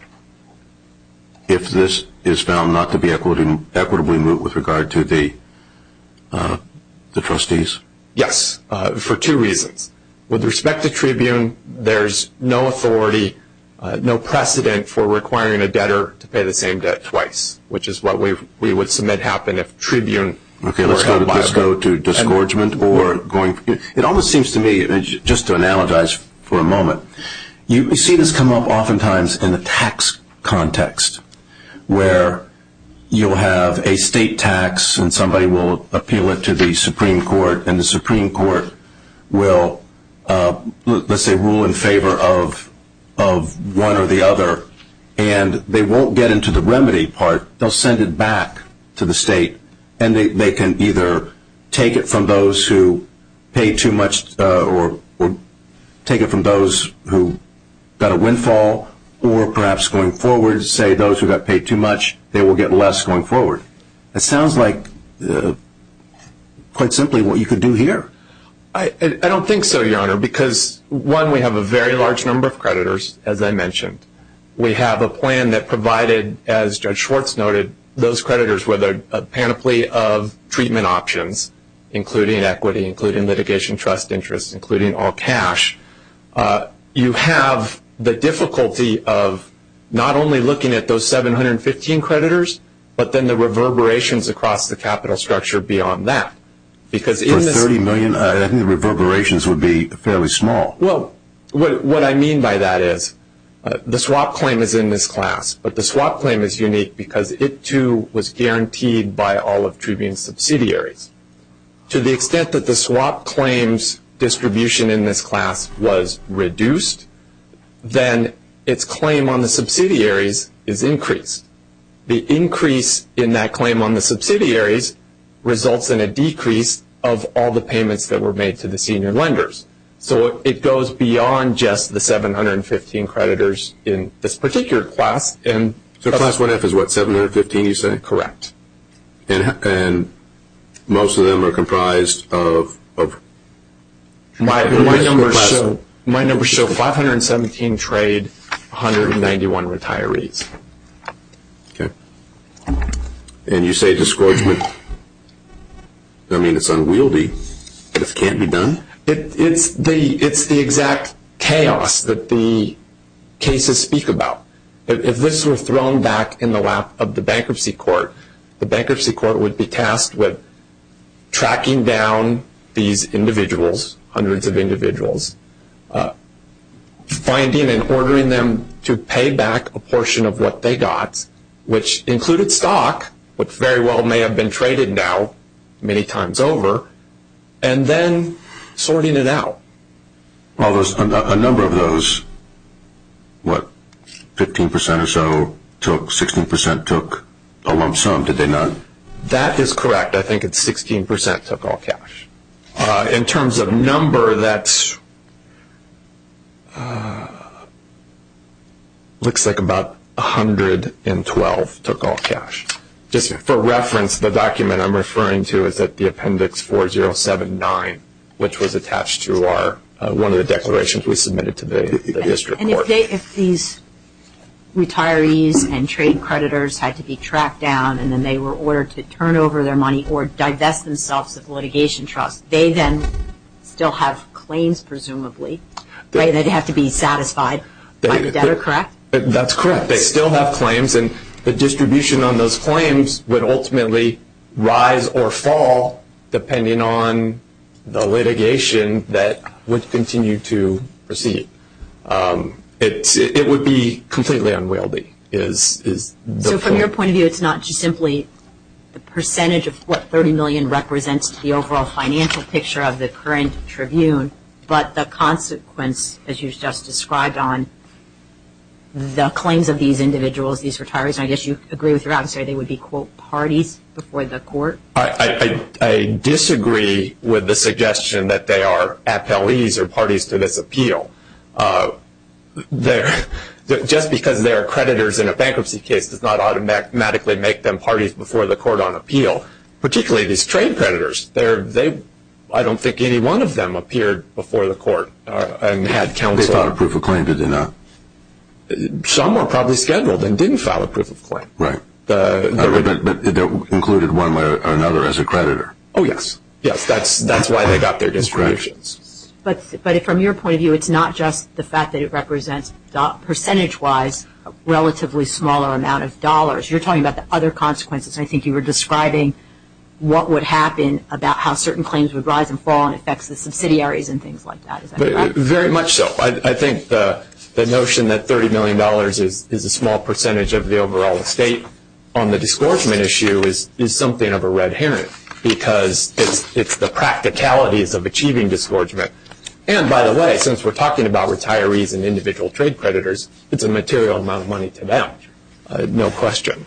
if this is found not to be equitably equitably moot with regard to the the trustees yes for two reasons with respect to Tribune there's no authority no precedent for requiring a debtor to pay the same debt twice which is what we would submit happen if Tribune okay let's go to discouragement or going it almost seems to me just to analogize for a moment you see this come up oftentimes in the tax context where you'll have a state tax and somebody will appeal it to the Supreme Court and the Supreme Court will let's say rule in favor of of one or the other and they won't get into the remedy part they'll send it back to the state and they can either take it from those who pay too much or take it from those who got a windfall or perhaps going forward say those who got paid too much they will get less going forward it sounds like quite simply what you could do here I don't think so your honor because one we have a very large number of creditors as I mentioned we have a plan that provided as judge Schwartz noted those creditors were there a panoply of treatment options including equity including litigation trust interest including all cash you have the difficulty of not only looking at those 715 creditors but then the reverberations across the capital structure beyond that because in 30 million reverberations would be fairly small well what I mean by that is the swap claim is in this class but the swap claim is unique because it too was to the extent that the swap claims distribution in this class was reduced then its claim on the subsidiaries is increased the increase in that claim on the subsidiaries results in a decrease of all the payments that were made to the senior lenders so it goes beyond just the 715 creditors in this most of them are comprised of my my number show 517 trade 191 retirees and you say discouragement I mean it's unwieldy it can't be done it's the it's the exact chaos that the cases speak about if this were thrown back in the bankruptcy court the bankruptcy court would be tasked with tracking down these individuals hundreds of individuals finding and ordering them to pay back a portion of what they got which included stock but very well may have been traded now many times over and then sorting it out well there's a lump sum did they not that is correct I think it's 16% took all cash in terms of number that's looks like about a hundred and twelve took all cash just for reference the document I'm referring to is that the appendix 4079 which was attached to our one of the declarations we submitted today if these retirees and creditors had to be tracked down and then they were ordered to turn over their money or divest themselves of litigation trust they then still have claims presumably they'd have to be satisfied that are correct that's correct they still have claims and the distribution on those claims would ultimately rise or fall depending on the litigation that would continue to proceed it would be completely unwieldy is from your point of view it's not just simply the percentage of what 30 million represents the overall financial picture of the current tribune but the consequence as you just described on the claims of these individuals these retirees I guess you agree with your answer they would be quote parties before the court I disagree with the suggestion that they are parties to this appeal they're just because there are creditors in a bankruptcy case does not automatically make them parties before the court on appeal particularly these trade creditors there they I don't think any one of them appeared before the court and had counsel a proof of claim to do not some are probably scheduled and didn't file a proof of claim right but included one way or another as a creditor oh yes yes that's that's why they got their distributions but but if from your point of view it's not just the fact that it represents percentage wise relatively smaller amount of dollars you're talking about the other consequences I think you were describing what would happen about how certain claims would rise and fall and affects the subsidiaries and things like that very much so I think the notion that 30 million dollars is is a small percentage of the overall estate on the disgorgement issue is is something of a red herring because it's it's the practicalities of achieving disgorgement and by the way since we're talking about retirees and individual trade creditors it's a material amount of money to them no question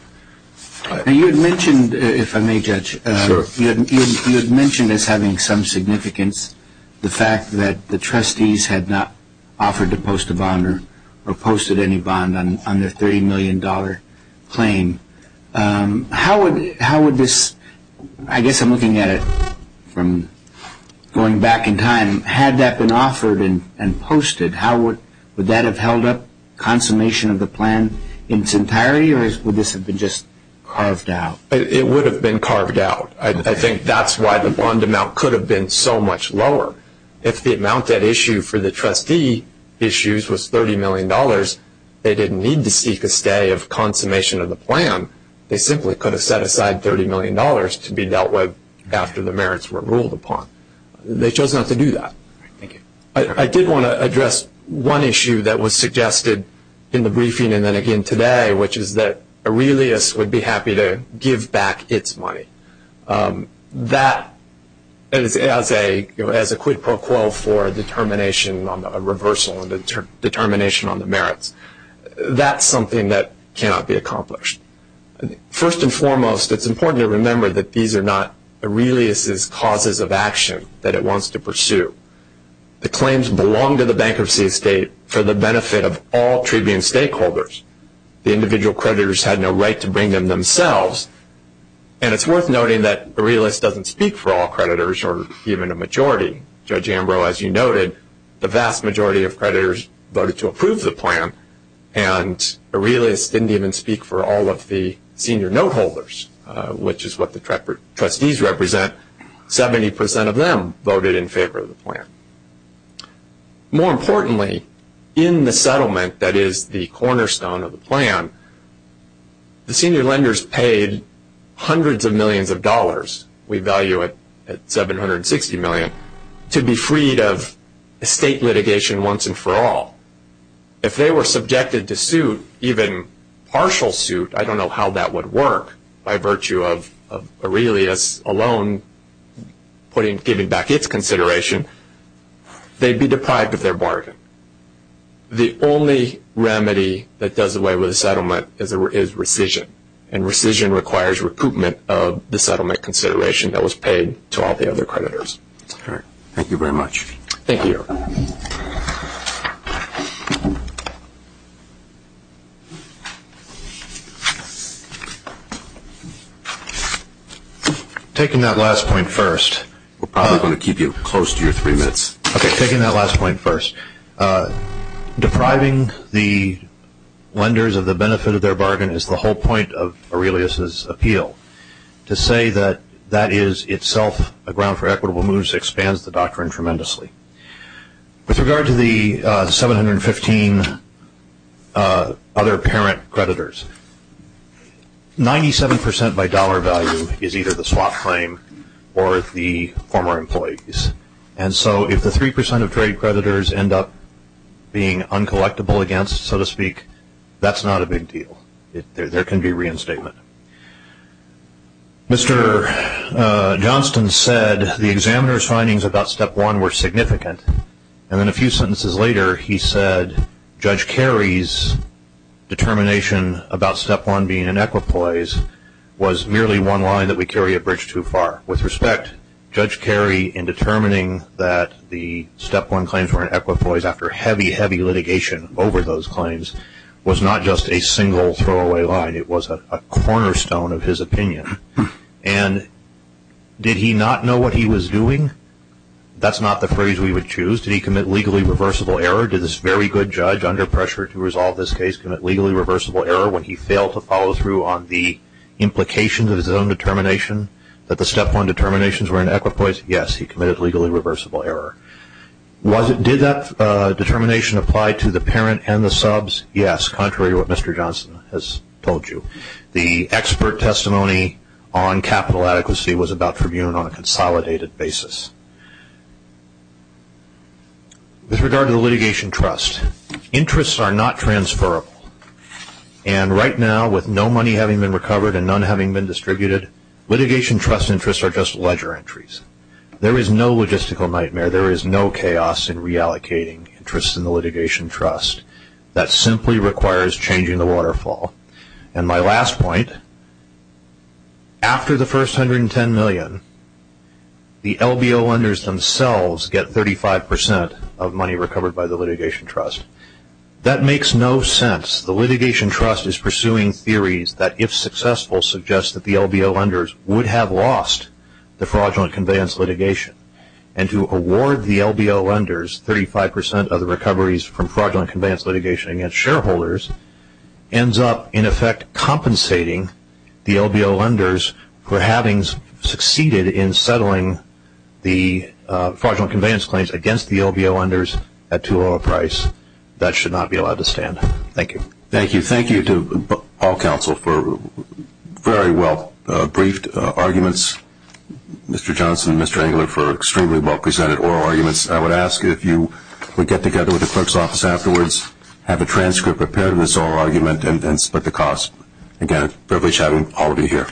you had mentioned if I may judge you mentioned as having some significance the fact that the trustees had not offered to post a bond or or posted any bond on under 30 million dollar claim how would this I guess I'm looking at it from going back in time had that been offered and and posted how would that have held up consummation of the plan in its entirety or would this have been just carved out it would have been carved out I think that's why the bond amount could have been so much lower if the amount that issue for the trustee issues was 30 million dollars they didn't need to seek a stay of consummation of the plan they simply could have set aside 30 million dollars to be dealt with after the merits were ruled upon they chose not to do that I did want to address one issue that was suggested in the briefing and then again today which is that a realist would be happy to give back its money that is as a as a quid pro quo for determination on the reversal and determination on the merits that's something that cannot be accomplished first and foremost it's important to remember that these are not a realist is causes of action that it wants to pursue the claims belong to the bankruptcy estate for the benefit of all tribune stakeholders the individual creditors had no right to bring them themselves and it's worth noting that the realist doesn't speak for all creditors or even a majority judge voted to approve the plan and a realist didn't even speak for all of the senior note holders which is what the trustees represent 70% of them voted in favor of the plan more importantly in the settlement that is the cornerstone of the plan the senior lenders paid hundreds of millions of dollars we value at 760 million to be freed of state litigation once and for all if they were subjected to sue even partial suit I don't know how that would work by virtue of a realist alone putting giving back its consideration they'd be deprived of their bargain the only remedy that does away with the settlement is a is rescission and rescission requires recruitment of the settlement consideration that was paid to all the other creditors all right thank you very much thank you taking that last point first we're probably going to keep you close to your three minutes okay taking that last point first depriving the lenders of the that is itself a ground for equitable moves expands the doctrine tremendously with regard to the 715 other parent creditors 97% by dollar value is either the swap claim or the former employees and so if the 3% of trade creditors end up being uncollectible against so to speak that's not a big deal there can be in statement mr. Johnston said the examiner's findings about step one were significant and then a few sentences later he said judge Kerry's determination about step one being an equipoise was merely one line that we carry a bridge too far with respect judge Kerry in determining that the step one claims were in equipoise after heavy heavy litigation over those claims was not just a single throwaway line it was a cornerstone of his opinion and did he not know what he was doing that's not the phrase we would choose to commit legally reversible error to this very good judge under pressure to resolve this case legally reversible error when he failed to follow through on the implications of his own determination that the step one determinations were in equipoise yes he committed legally reversible error was it did that determination apply to the parent and the subs yes contrary to what mr. Johnston has told you the expert testimony on capital adequacy was about tribune on a consolidated basis with regard to the litigation trust interests are not transferable and right now with no money having been recovered and none having been distributed litigation trust interests are just ledger entries there is no logistical nightmare there is no chaos in reallocating interest in the litigation trust that simply requires changing the waterfall and my last point after the first hundred and ten million the LBO lenders themselves get thirty five percent of money recovered by the litigation trust that makes no sense the litigation trust is pursuing theories that if successful suggest that the LBO lenders would have lost the fraudulent lenders thirty five percent of the recoveries from fraudulent conveyance litigation against shareholders ends up in effect compensating the LBO lenders for having succeeded in settling the fraudulent conveyance claims against the LBO lenders at too low a price that should not be allowed to stand thank you thank you thank you to all counsel for very well briefed arguments mr. if you would get together with the clerk's office afterwards have a transcript prepared in this oral argument and then split the cost again privilege having all of you here